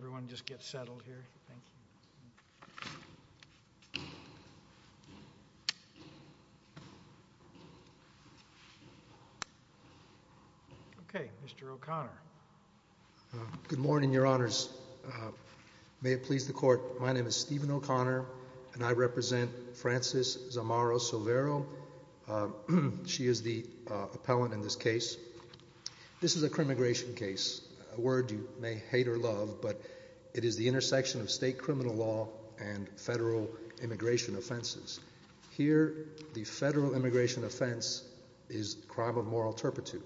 Good morning, Your Honors. May it please the Court, my name is Stephen O'Connor and I represent Frances Zamaro-Silvero. She is the appellant in this case. This is a criminal immigration case, a word you may hate or love, but it is the intersection of state criminal law and federal immigration offenses. Here the federal immigration offense is a crime of moral turpitude.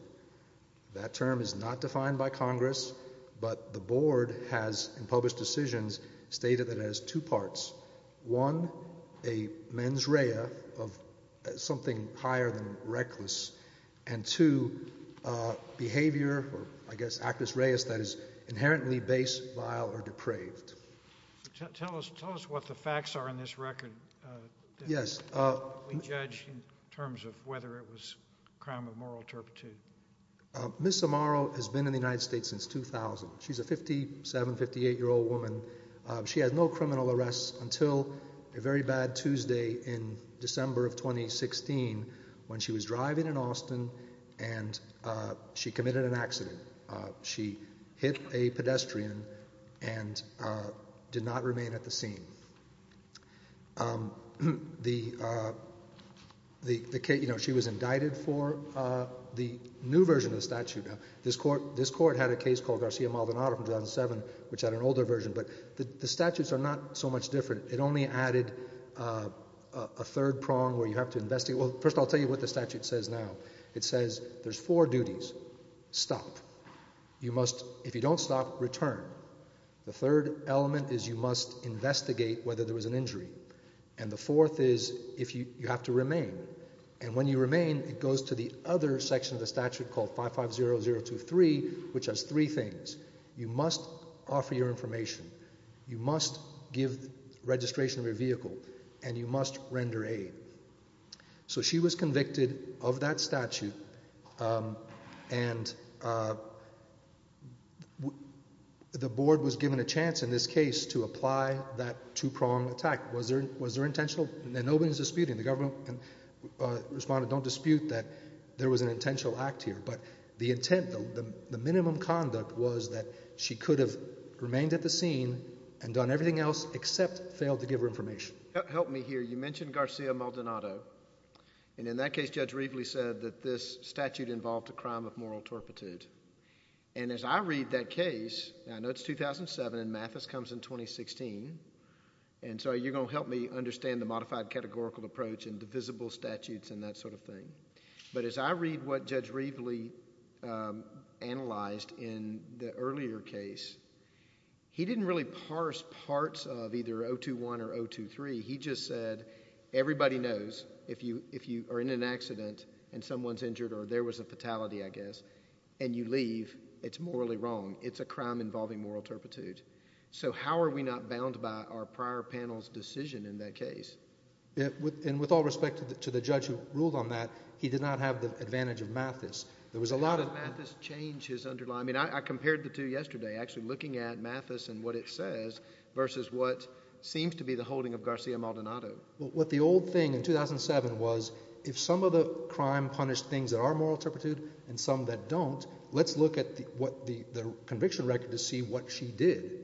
That term is not defined by Congress, but the Board has, in published decisions, stated that it has two parts, one, a mens rea, something higher than reckless, and two, behavior, or I guess actus reus, that is inherently base, vile, or depraved. Tell us what the facts are in this record that we judge in terms of whether it was a crime of moral turpitude. Ms. Zamaro has been in the United States since 2000. She's a 57, 58-year-old woman. She had no criminal arrests until a very bad Tuesday in December of 2016 when she was driving in Austin and she committed an accident. She hit a pedestrian and did not remain at the scene. She was indicted for the new version of the statute. This court had a case called Garcia-Maldonado from 2007, which had an older version, but the statutes are not so much different. It only added a third prong where you have to investigate. First, I'll tell you what the statute says now. It says there's four duties. Stop. You must, if you don't stop, return. The third element is you must investigate whether there was an injury. The fourth is you have to remain. When you remain, it goes to the other section of the statute called 550-023, which has three things. You must offer your information. You must give registration of your vehicle. You must render aid. She was convicted of that statute. The board was given a chance in this case to apply that two-pronged attack. Was there intentional? Nobody's disputing. The government responded, don't dispute that there was an intentional act here, but the intent, the minimum conduct was that she could have remained at the scene and done everything else except failed to give her information. Help me here. You mentioned Garcia-Maldonado. In that case, Judge Reveley said that this statute involved a crime of moral torpitude. As I read that case, I know it's 2007 and Mathis comes in 2016, so you're going to help me understand the modified categorical approach and divisible statutes and that sort of thing. As I read what Judge Reveley analyzed in the earlier case, he didn't really parse parts of either 021 or 023. He just said everybody knows if you are in an accident and someone's injured or there was a fatality, I guess, and you leave, it's morally wrong. It's a crime involving moral torpitude. How are we not bound by our prior panel's decision in that case? With all respect to the judge who ruled on that, he did not have the advantage of Mathis. There was a lot of... How did Mathis change his underlying... I compared the two yesterday, actually looking at Mathis and what it says versus what seems to be the holding of Garcia-Maldonado. What the old thing in 2007 was if some of the crime punished things that are moral torpitude and some that don't, let's look at the conviction record to see what she did.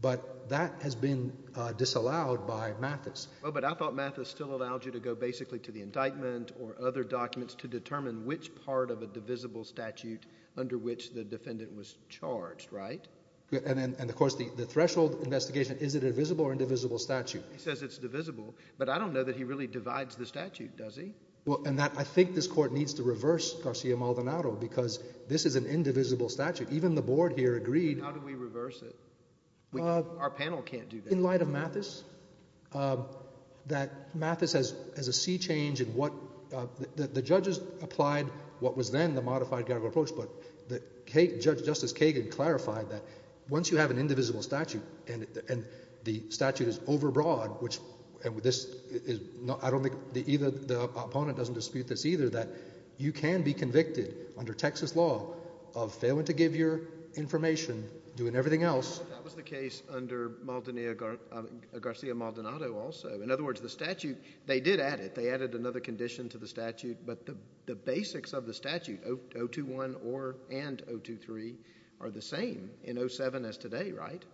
But that has been disallowed by Mathis. But I thought Mathis still allowed you to go basically to the indictment or other documents to determine which part of a divisible statute under which the defendant was charged, right? And of course, the threshold investigation, is it a divisible or indivisible statute? He says it's divisible, but I don't know that he really divides the statute, does he? And I think this Court needs to reverse Garcia-Maldonado because this is an indivisible statute. Even the Board here agreed... But how do we reverse it? Our panel can't do that. In light of Mathis, that Mathis has a sea change in what... the judges applied what was then the modified gaggle approach, but Judge Justice Kagan clarified that once you have an indivisible statute and the statute is overbroad, which this is... I don't think the opponent doesn't dispute this either, that you can be convicted under Texas law of failing to give your information, doing everything else... But that was the case under Garcia-Maldonado also. In other words, the statute, they did add it. They added another condition to the statute, but the basics of the statute, 021 and 023, are the same in 07 as today, right?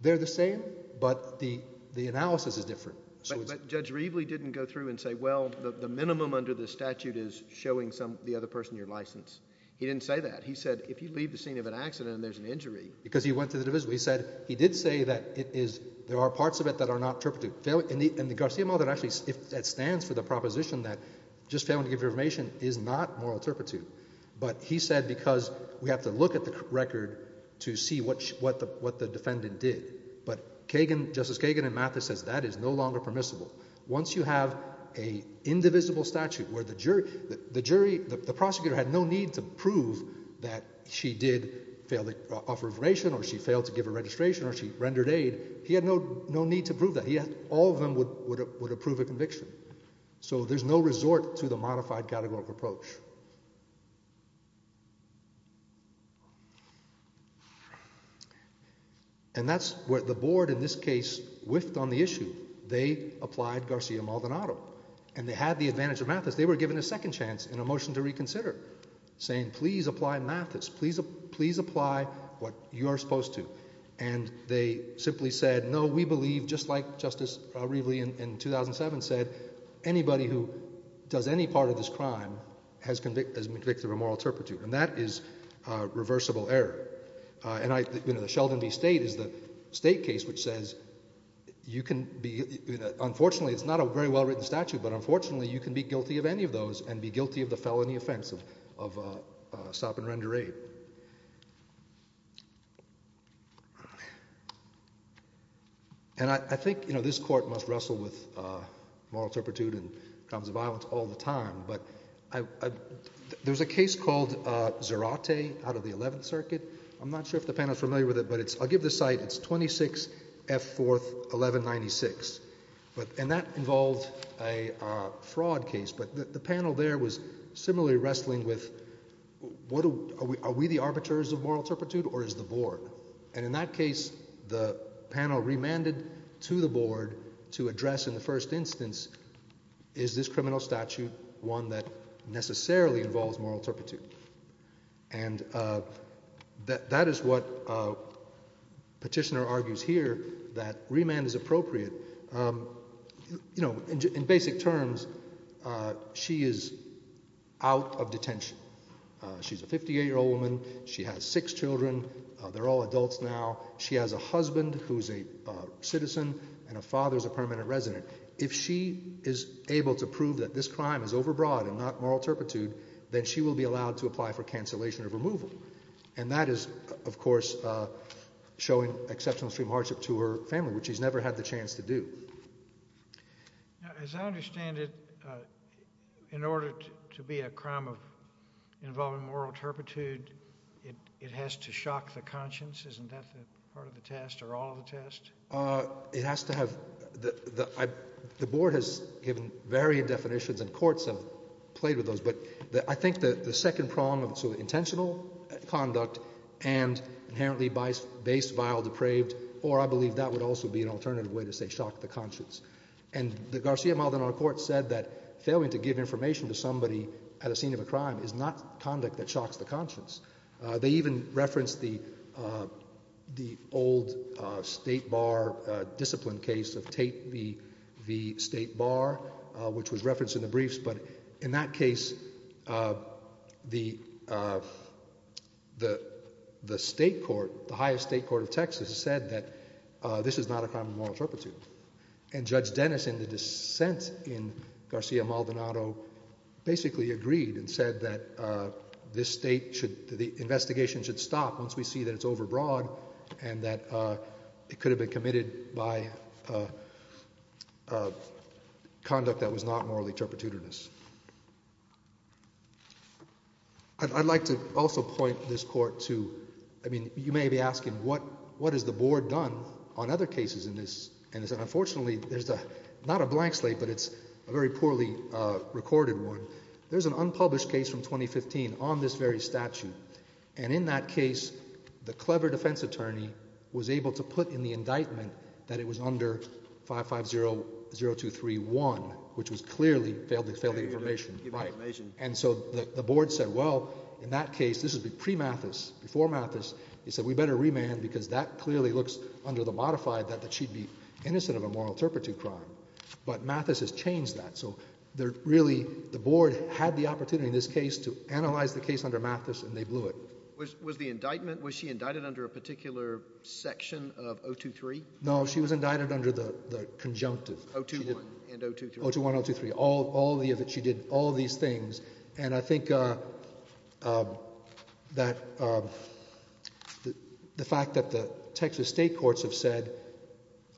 They're the same, but the analysis is different. But Judge Rivley didn't go through and say, well, the minimum under the statute is showing the other person your license. He didn't say that. He said, if you leave the scene of an accident and there's an injury... Because he went to the divisible. He said, he did say that it is... there are parts of it that are not interpretative. And the Garcia-Maldonado actually... that stands for the proposition that just failing to give your information is not moral interpretative. But he said because we have to look at the record to see what the defendant did. But Kagan, Justice Kagan and Mathis says that is no longer permissible. Once you have an indivisible statute where the jury... the jury... the prosecutor had no need to prove that she did fail to offer information or she failed to give a registration or she rendered aid, he had no need to prove that. All of them would approve a conviction. So there's no resort to the modified categorical approach. And that's where the board in this case whiffed on the issue. They applied Garcia-Maldonado. And they had the advantage of Mathis. They were given a second chance in a motion to reconsider saying, please apply Mathis. Please apply what you are supposed to. And they simply said, no, we believe just like Justice Reveley in 2007 said, anybody who does any part of this crime has been convicted of a moral turpitude. And that is reversible error. And the Sheldon v. State is the State case which says you can be... unfortunately it's not a very well-written statute, but unfortunately you can be guilty of any of those and be guilty of the felony offense of stop and render aid. And I think, you know, this Court must wrestle with moral turpitude and crimes of violence all the time. But there's a case called Zerate out of the Eleventh Circuit. I'm not sure if the panel is familiar with it, but it's... I'll give the site. It's 26 F. 4th, 1196. And that involved a fraud case. But the panel there was similarly wrestling with are we the arbiters of moral turpitude or is the Board? And in that case, the panel remanded to the Board to address in the first instance, is this criminal statute one that necessarily involves moral turpitude? And that is what Petitioner argues here, that remand is appropriate. You know, in basic terms, she is out of detention. She's a 58-year-old woman. She has six children. They're all adults now. She has a husband who's a citizen and a father who's a permanent resident. If she is able to prove that this crime is overbroad and not moral turpitude, then she will be allowed to apply for cancellation of removal. And that is, of course, showing exceptional extreme hardship to her family, which she's never had the chance to do. As I understand it, in order to be a crime involving moral turpitude, it has to shock the conscience. Isn't that part of the test or all of the test? It has to have—the Board has given varying definitions and courts have played with those. But I think the second prong of intentional conduct and inherently base vile, depraved, or I believe that would also be an alternative way to say shock the conscience. And the Garcia-Maldonado court said that failing to give information to somebody at the scene of a crime is not conduct that shocks the conscience. They even referenced the old state bar discipline case of Tate v. State Bar, which was referenced in the briefs. But in that case, the state court, the highest state court of Texas, said that this is not a crime of moral turpitude. And Judge Dennis, in the dissent in Garcia-Maldonado, basically agreed and said that this state should—the investigation should stop once we see that it's overbroad and that it could that was not morally turpitudinous. I'd like to also point this Court to—I mean, you may be asking what has the Board done on other cases in this? And unfortunately, there's not a blank slate, but it's a very poorly recorded one. There's an unpublished case from 2015 on this very statute. And in that case, the clever defense attorney was able to put in the indictment that it was clearly failed to give the information. And so the Board said, well, in that case, this would be pre-Mathis, before Mathis, it said we better remand because that clearly looks under the modified that she'd be innocent of a moral turpitude crime. But Mathis has changed that. So really, the Board had the opportunity in this case to analyze the case under Mathis and they blew it. Was the indictment—was she indicted under a particular section of 023? No, she was indicted under the conjunctive. 021 and 023. All of the—she did all of these things. And I think that the fact that the Texas state courts have said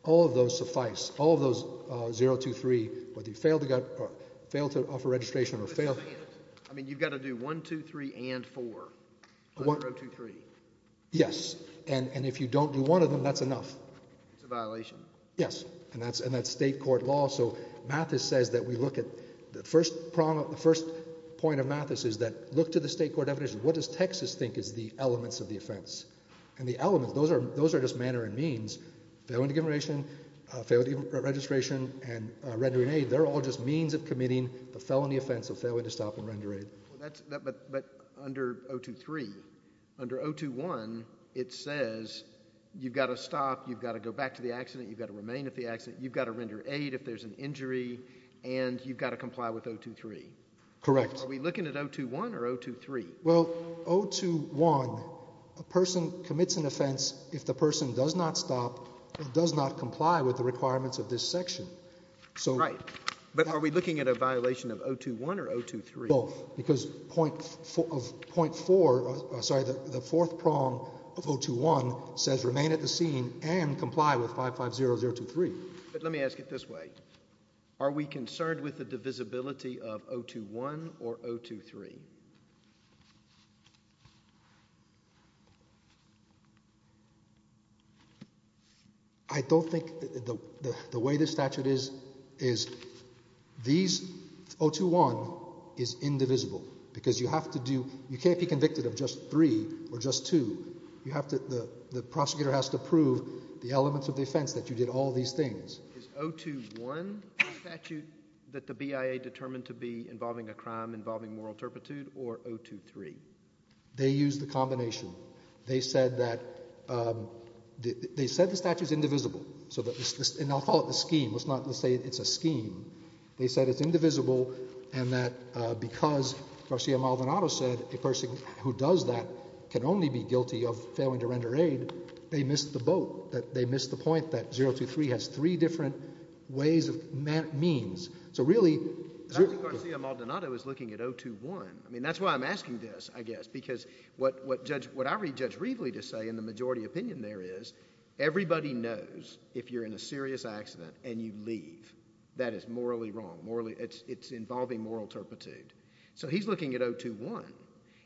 all of those suffice, all of those 023, whether you fail to get—fail to offer registration or fail— I mean, you've got to do 123 and 4, under 023. Yes. And if you don't do one of them, that's enough. It's a violation. Yes. And that's state court law. So Mathis says that we look at—the first point of Mathis is that, look to the state court definition. What does Texas think is the elements of the offense? And the elements, those are just manner and means—failure to give registration, fail to give registration, and rendering aid—they're all just means of committing the felony offense of failing to stop and render aid. But under 023, under 021, it says you've got to stop, you've got to go back to the accident, you've got to remain at the accident, you've got to render aid if there's an injury, and you've got to comply with 023. Correct. Are we looking at 021 or 023? Well, 021, a person commits an offense if the person does not stop or does not comply with the requirements of this section. So— Right. But are we looking at a violation of 021 or 023? Both. Because point—of point 4—sorry, the fourth prong of 021 says remain at the scene and comply with 550-023. But let me ask it this way. Are we concerned with the divisibility of 021 or 023? I don't think—the way the statute is, is these—021 is indivisible, because you have to do—you can't be convicted of just three or just two. You have to—the prosecutor has to prove the elements of the offense that you did all these things. Is 021 the statute that the BIA determined to be involving a crime involving moral turpitude or 023? They used the combination. They said that—they said the statute's indivisible, so that—and I'll call it a scheme. Let's not—let's say it's a scheme. They said it's indivisible and that because Garcia-Maldonado said a person who does that can only be guilty of failing to render aid, they missed the boat, that they missed the boat. 023 has three different ways of—means. So really— I think Garcia-Maldonado is looking at 021. I mean, that's why I'm asking this, I guess, because what Judge—what I read Judge Reveley to say in the majority opinion there is everybody knows if you're in a serious accident and you leave. That is morally wrong, morally—it's involving moral turpitude. So he's looking at 021.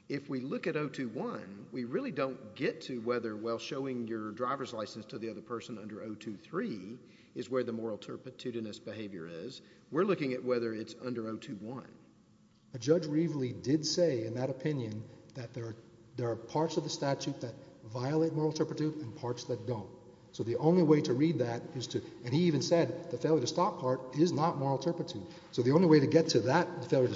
If we look at 021, we really don't get to whether, while showing your driver's license to the other person under 023 is where the moral turpitudinous behavior is, we're looking at whether it's under 021. But Judge Reveley did say in that opinion that there are parts of the statute that violate moral turpitude and parts that don't. So the only way to read that is to—and he even said the failure to stop part is not moral turpitude. So the only way to get to that, the failure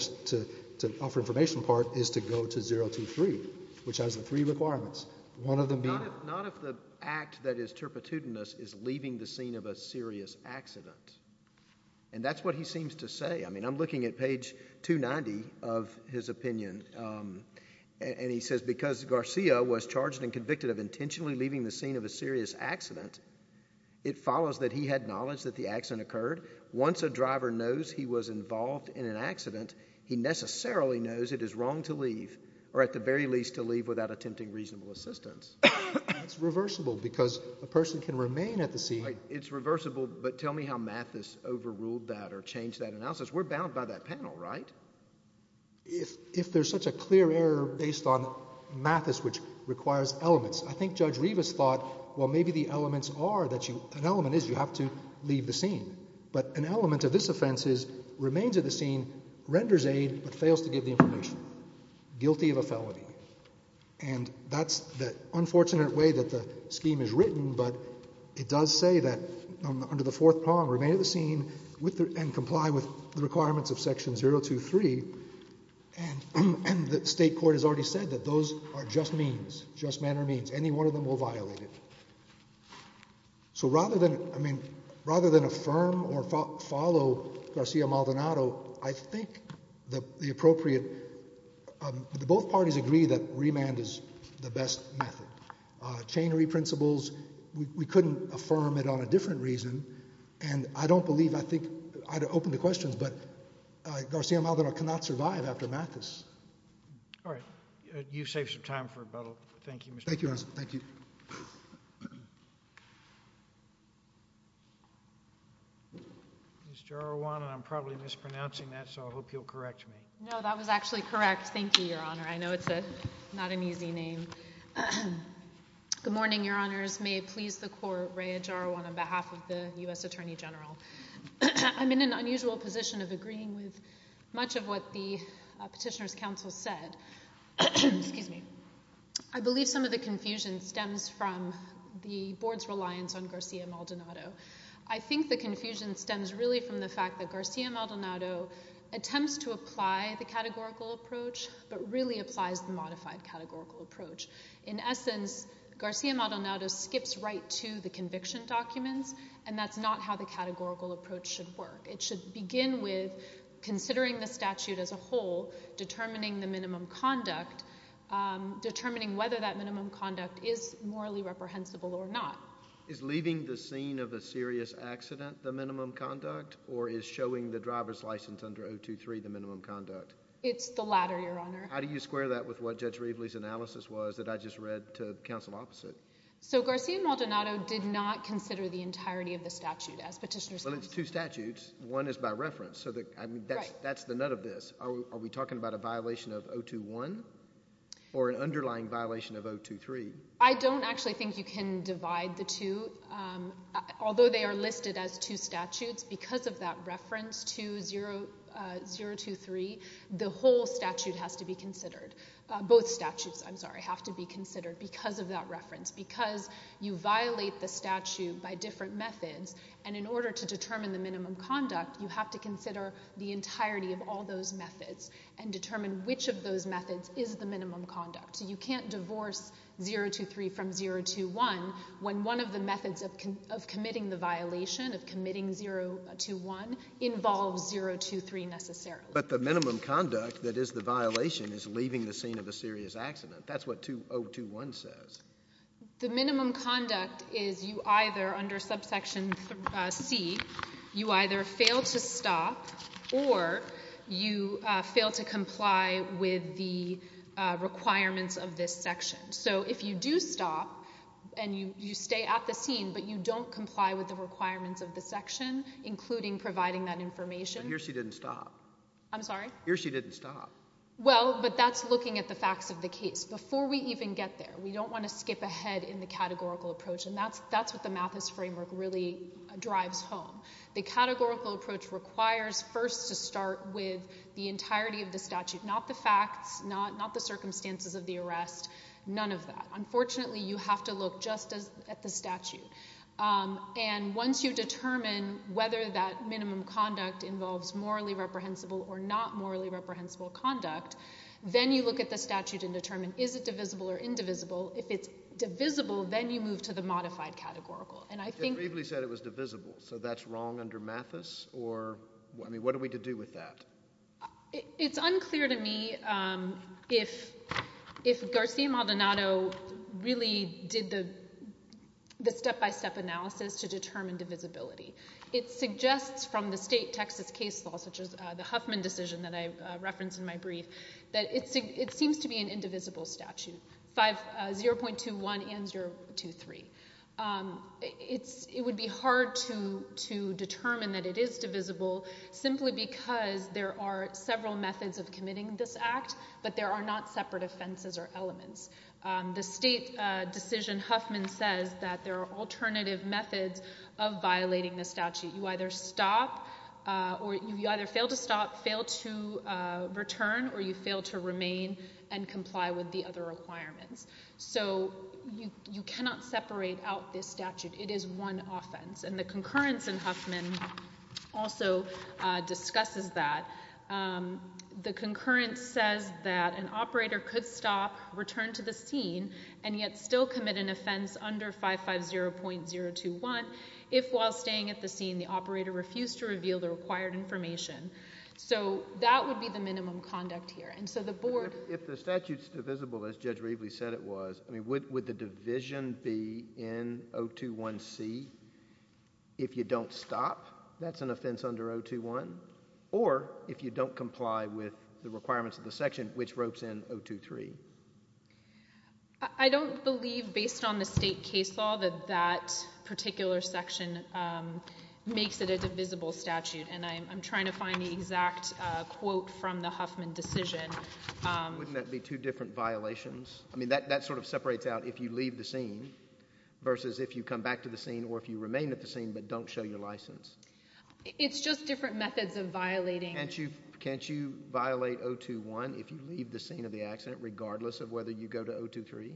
to offer information part, is to go to 023, which has the three requirements. One of them being— Not if the act that is turpitudinous is leaving the scene of a serious accident. And that's what he seems to say. I mean, I'm looking at page 290 of his opinion, and he says, because Garcia was charged and convicted of intentionally leaving the scene of a serious accident, it follows that he had knowledge that the accident occurred. Once a driver knows he was involved in an accident, he necessarily knows it is wrong to leave, or at the very least to leave without attempting reasonable assistance. It's reversible, because a person can remain at the scene— It's reversible, but tell me how Mathis overruled that or changed that analysis. We're bound by that panel, right? If there's such a clear error based on Mathis, which requires elements—I think Judge Revis thought, well, maybe the elements are that you—an element is you have to leave the scene. But an element of this offense is remains at the scene, renders aid, but fails to give the information, guilty of a felony. And that's the unfortunate way that the scheme is written, but it does say that under the fourth prong, remain at the scene and comply with the requirements of Section 023, and the state court has already said that those are just means, just manner means. Any one of them will violate it. So rather than—I mean, rather than affirm or follow Garcia-Maldonado, I think the appropriate—both parties agree that remand is the best method. Chain re-principles, we couldn't affirm it on a different reason, and I don't believe—I think I'd open to questions, but Garcia-Maldonado cannot survive after Mathis. All right. You've saved some time for rebuttal. Thank you, Mr. Chief. Thank you, Your Honor. Thank you. Ms. Jaruwan, and I'm probably mispronouncing that, so I hope you'll correct me. No, that was actually correct. Thank you, Your Honor. I know it's a—not an easy name. Good morning, Your Honors. May it please the Court, Rea Jaruwan, on behalf of the U.S. Attorney General. I'm in an unusual position of agreeing with much of what the Petitioner's Counsel said. I believe some of the confusion that we've had with the petitioner's counsel is that the confusion stems from the Board's reliance on Garcia-Maldonado. I think the confusion stems really from the fact that Garcia-Maldonado attempts to apply the categorical approach, but really applies the modified categorical approach. In essence, Garcia-Maldonado skips right to the conviction documents, and that's not how the categorical approach should work. It should begin with considering the statute as a whole, determining the minimum conduct, determining whether that minimum conduct is morally reprehensible or not. Is leaving the scene of a serious accident the minimum conduct, or is showing the driver's license under O2-3 the minimum conduct? It's the latter, Your Honor. How do you square that with what Judge Raveley's analysis was that I just read to counsel opposite? So Garcia-Maldonado did not consider the entirety of the statute as petitioner's counsel. Well, it's two statutes. One is by reference, so that's the nut of this. Are we talking about a violation of O2-1 or an underlying violation of O2-3? I don't actually think you can divide the two. Although they are listed as two statutes, because of that reference to O2-3, the whole statute has to be considered. Both statutes, I'm sorry, have to be considered because of that reference. Because you violate the statute by different methods, and in order to determine the minimum conduct, you have to consider the entirety of all those methods and determine which of those methods is the minimum conduct. So you can't divorce O2-3 from O2-1 when one of the methods of committing the violation, of committing O2-1, involves O2-3 necessarily. But the minimum conduct that is the violation is leaving the scene of a serious accident. That's what O2-1 says. The minimum conduct is you either, under subsection C, you either fail to stop or you fail to comply with the requirements of this section. So if you do stop, and you stay at the scene, but you don't comply with the requirements of the section, including providing that information — But here she didn't stop. I'm sorry? Here she didn't stop. Well, but that's looking at the facts of the case. Before we even get there, we don't want to skip ahead in the categorical approach. And that's what the Mathis framework really drives home. The categorical approach requires first to start with the entirety of the statute, not the facts, not the circumstances of the arrest, none of that. Unfortunately, you have to look just at the statute. And once you determine whether that minimum conduct involves morally reprehensible or not morally reprehensible conduct, then you look at the statute and determine is it divisible or indivisible. If it's divisible, then you move to the modified categorical. And I think — You briefly said it was divisible. So that's wrong under Mathis? Or, I mean, what are we to do with that? It's unclear to me if Garcia-Maldonado really did the step-by-step analysis to determine divisibility. It suggests from the state Texas case law, such as the Huffman decision that I referenced in my brief, that it seems to be an indivisible statute, 0.21 and 0.23. It would be hard to determine that it is divisible simply because there are several methods of committing this act, but there are not separate offenses or elements. The state decision Huffman says that there are alternative methods of violating the statute. You either stop or — you either fail to stop, fail to return, or you fail to remain and comply with the other requirements. So you cannot separate out this statute. It is one offense. And the concurrence in Huffman also discusses that. The concurrence says that an operator could stop, return to the scene, and yet still commit an offense under 550.021 if, while staying at the scene, the operator refused to reveal the required information. So that would be the minimum conduct here. And so the board — If the statute's divisible, as Judge Raveley said it was, I mean, would the division be in 021C if you don't stop? That's an offense under 021? Or if you don't comply with the requirements of the section, which ropes in 023? I don't believe, based on the state case law, that that particular section makes it a divisible statute. And I'm trying to find the exact quote from the Huffman decision. Wouldn't that be two different violations? I mean, that sort of separates out if you leave the scene versus if you come back to the scene or if you remain at the scene but don't show your license. It's just different methods of violating — Can't you violate 021 if you leave the scene of the accident regardless of whether you go to 023?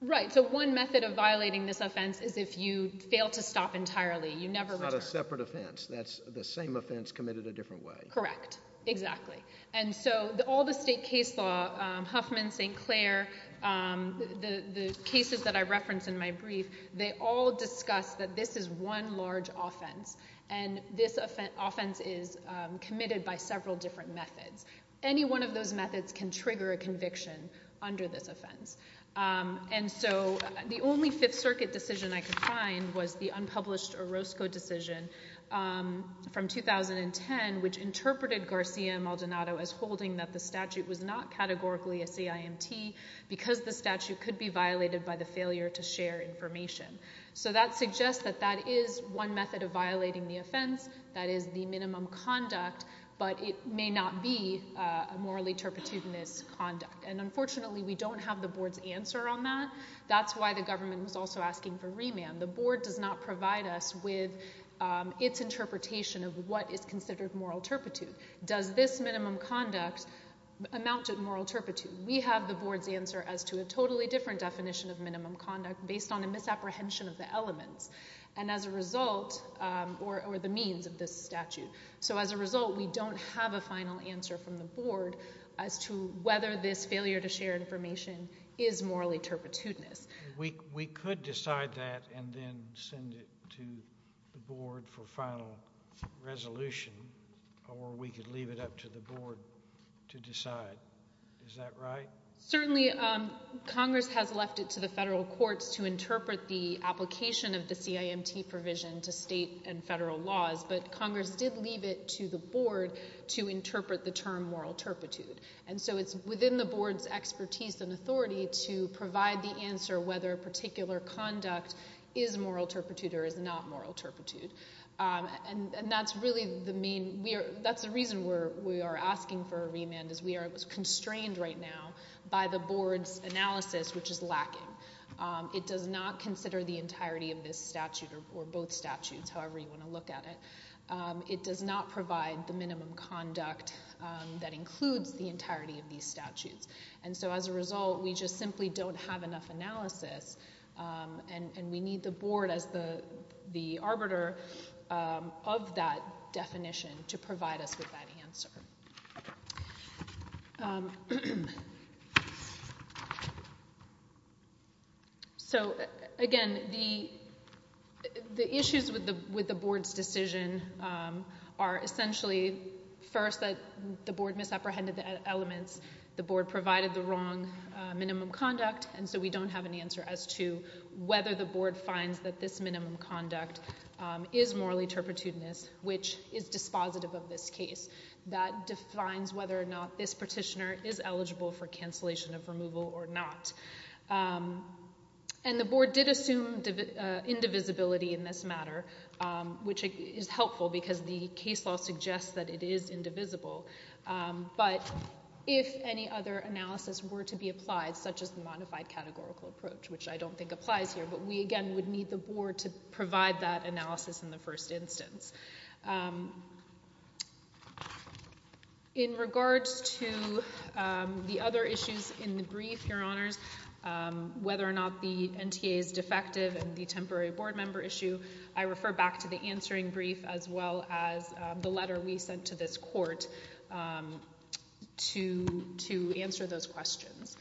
Right. So one method of violating this offense is if you fail to stop entirely. You never return. It's not a separate offense. That's the same offense committed a different way. Correct. Exactly. And so all the state case law — Huffman, St. Clair, the cases that I reference in my And this offense is committed by several different methods. Any one of those methods can trigger a conviction under this offense. And so the only Fifth Circuit decision I could find was the unpublished Orozco decision from 2010, which interpreted Garcia-Maldonado as holding that the statute was not categorically a CIMT because the statute could be violated by the failure to share information. So that suggests that that is one method of violating the offense. That is the minimum conduct. But it may not be a morally turpitudinous conduct. And unfortunately, we don't have the board's answer on that. That's why the government was also asking for remand. The board does not provide us with its interpretation of what is considered moral turpitude. Does this minimum conduct amount to moral turpitude? We have the board's answer as to a totally different definition of minimum conduct based on a misapprehension of the elements. And as a result, or the means of this statute. So as a result, we don't have a final answer from the board as to whether this failure to share information is morally turpitudinous. We could decide that and then send it to the board for final resolution, or we could leave it up to the board to decide, is that right? Certainly, Congress has left it to the federal courts to interpret the application of the CIMT provision to state and federal laws. But Congress did leave it to the board to interpret the term moral turpitude. And so it's within the board's expertise and authority to provide the answer whether a particular conduct is moral turpitude or is not moral turpitude. And that's really the main, that's the reason we are asking for a remand, is we are constrained right now by the board's analysis, which is lacking. It does not consider the entirety of this statute, or both statutes, however you want to look at it. It does not provide the minimum conduct that includes the entirety of these statutes. And so as a result, we just simply don't have enough analysis and we need the board as the So, again, the issues with the board's decision are essentially, first, that the board misapprehended the elements, the board provided the wrong minimum conduct, and so we don't have an answer as to whether the board finds that this minimum conduct is morally turpitudinous, which is dispositive of this case. That defines whether or not this petitioner is eligible for cancellation of removal or not. And the board did assume indivisibility in this matter, which is helpful because the case law suggests that it is indivisible. But if any other analysis were to be applied, such as the modified categorical approach, which I don't think applies here, but we, again, would need the board to provide that In regards to the other issues in the brief, Your Honors, whether or not the NTA is defective and the temporary board member issue, I refer back to the answering brief as well as the letter we sent to this court to answer those questions.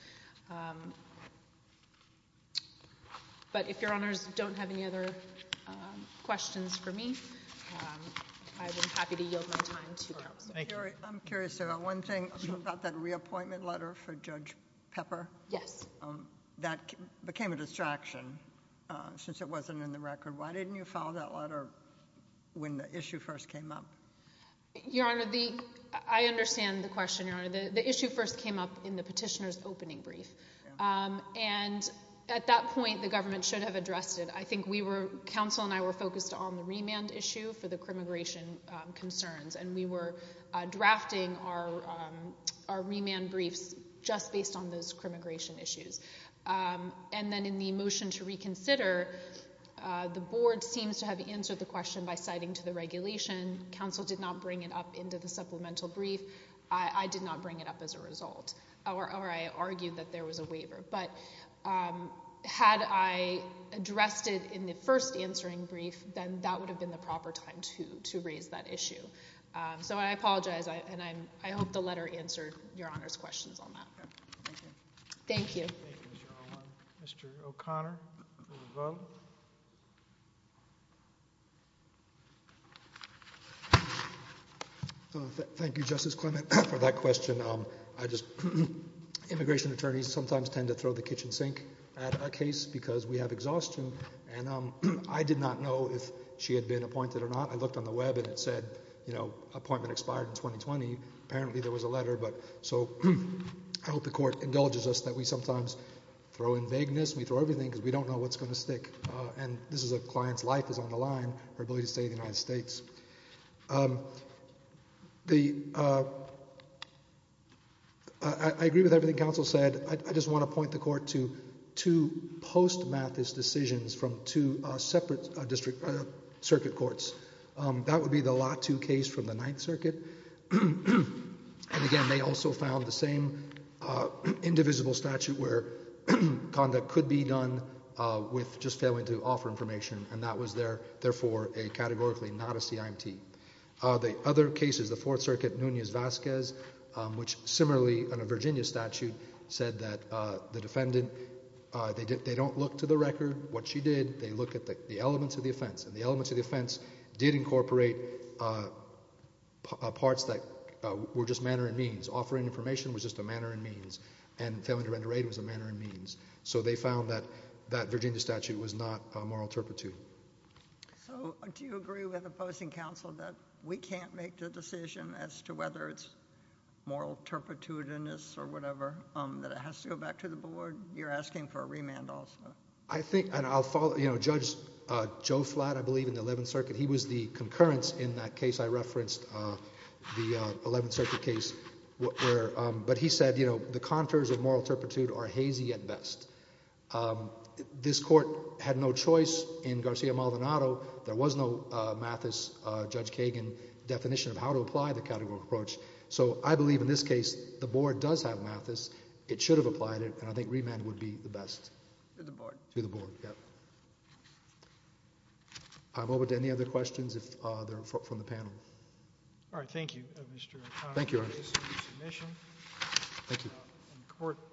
But if Your Honors don't have any other questions for me, I'm happy to yield my time to counsel. I'm curious, Sarah, one thing about that reappointment letter for Judge Pepper. Yes. That became a distraction since it wasn't in the record. Why didn't you file that letter when the issue first came up? Your Honor, I understand the question, Your Honor. The issue first came up in the petitioner's opening brief. And at that point, the government should have addressed it. I think we were, counsel and I were focused on the remand issue for the crimmigration concerns, and we were drafting our remand briefs just based on those crimmigration issues. And then in the motion to reconsider, the board seems to have answered the question by citing to the regulation. Counsel did not bring it up into the supplemental brief. I did not bring it up as a result, or I argued that there was a waiver. But had I addressed it in the first answering brief, then that would have been the proper time to raise that issue. So I apologize, and I hope the letter answered Your Honor's questions on that. Thank you. Mr. O'Connor for the vote. Thank you, Justice Clement, for that question. Immigration attorneys sometimes tend to throw the kitchen sink at a case because we have exhaustion. And I did not know if she had been appointed or not. I looked on the web and it said, you know, appointment expired in 2020. Apparently there was a letter. So I hope the court indulges us that we sometimes throw in vagueness, we throw everything, because we don't know what's going to stick. And this is a client's life is on the line, her ability to stay in the United States. I agree with everything counsel said. I just want to point the court to two post-Mathis decisions from two separate circuit courts. That would be the Lot 2 case from the Ninth Circuit, and again, they also found the same indivisible statute where conduct could be done with just failing to offer information, and that was therefore a categorically not a CIMT. The other cases, the Fourth Circuit, Nunez-Vazquez, which similarly on a Virginia statute said that the defendant, they don't look to the record, what she did, they look at the elements of the offense. And the elements of the offense did incorporate parts that were just manner and means. Offering information was just a manner and means, and failing to render aid was a manner and means. So they found that that Virginia statute was not a moral turpitude. So do you agree with opposing counsel that we can't make the decision as to whether it's moral turpituidness or whatever, that it has to go back to the board? You're asking for a remand also. I think, and I'll follow, you know, Judge Joe Flatt, I believe, in the Eleventh Circuit, he was the concurrence in that case I referenced, the Eleventh Circuit case, where, but he said, you know, the contours of moral turpitude are hazy at best. This court had no choice in Garcia-Maldonado, there was no Mathis, Judge Kagan, definition of how to apply the categorical approach. So I believe in this case, the board does have Mathis, it should have applied it, and I think remand would be the best. To the board. To the board, yeah. I'm open to any other questions if they're from the panel. All right. Thank you, Mr. O'Connor. Thank you, Your Honor. Case for submission. Thank you. Court adjourned.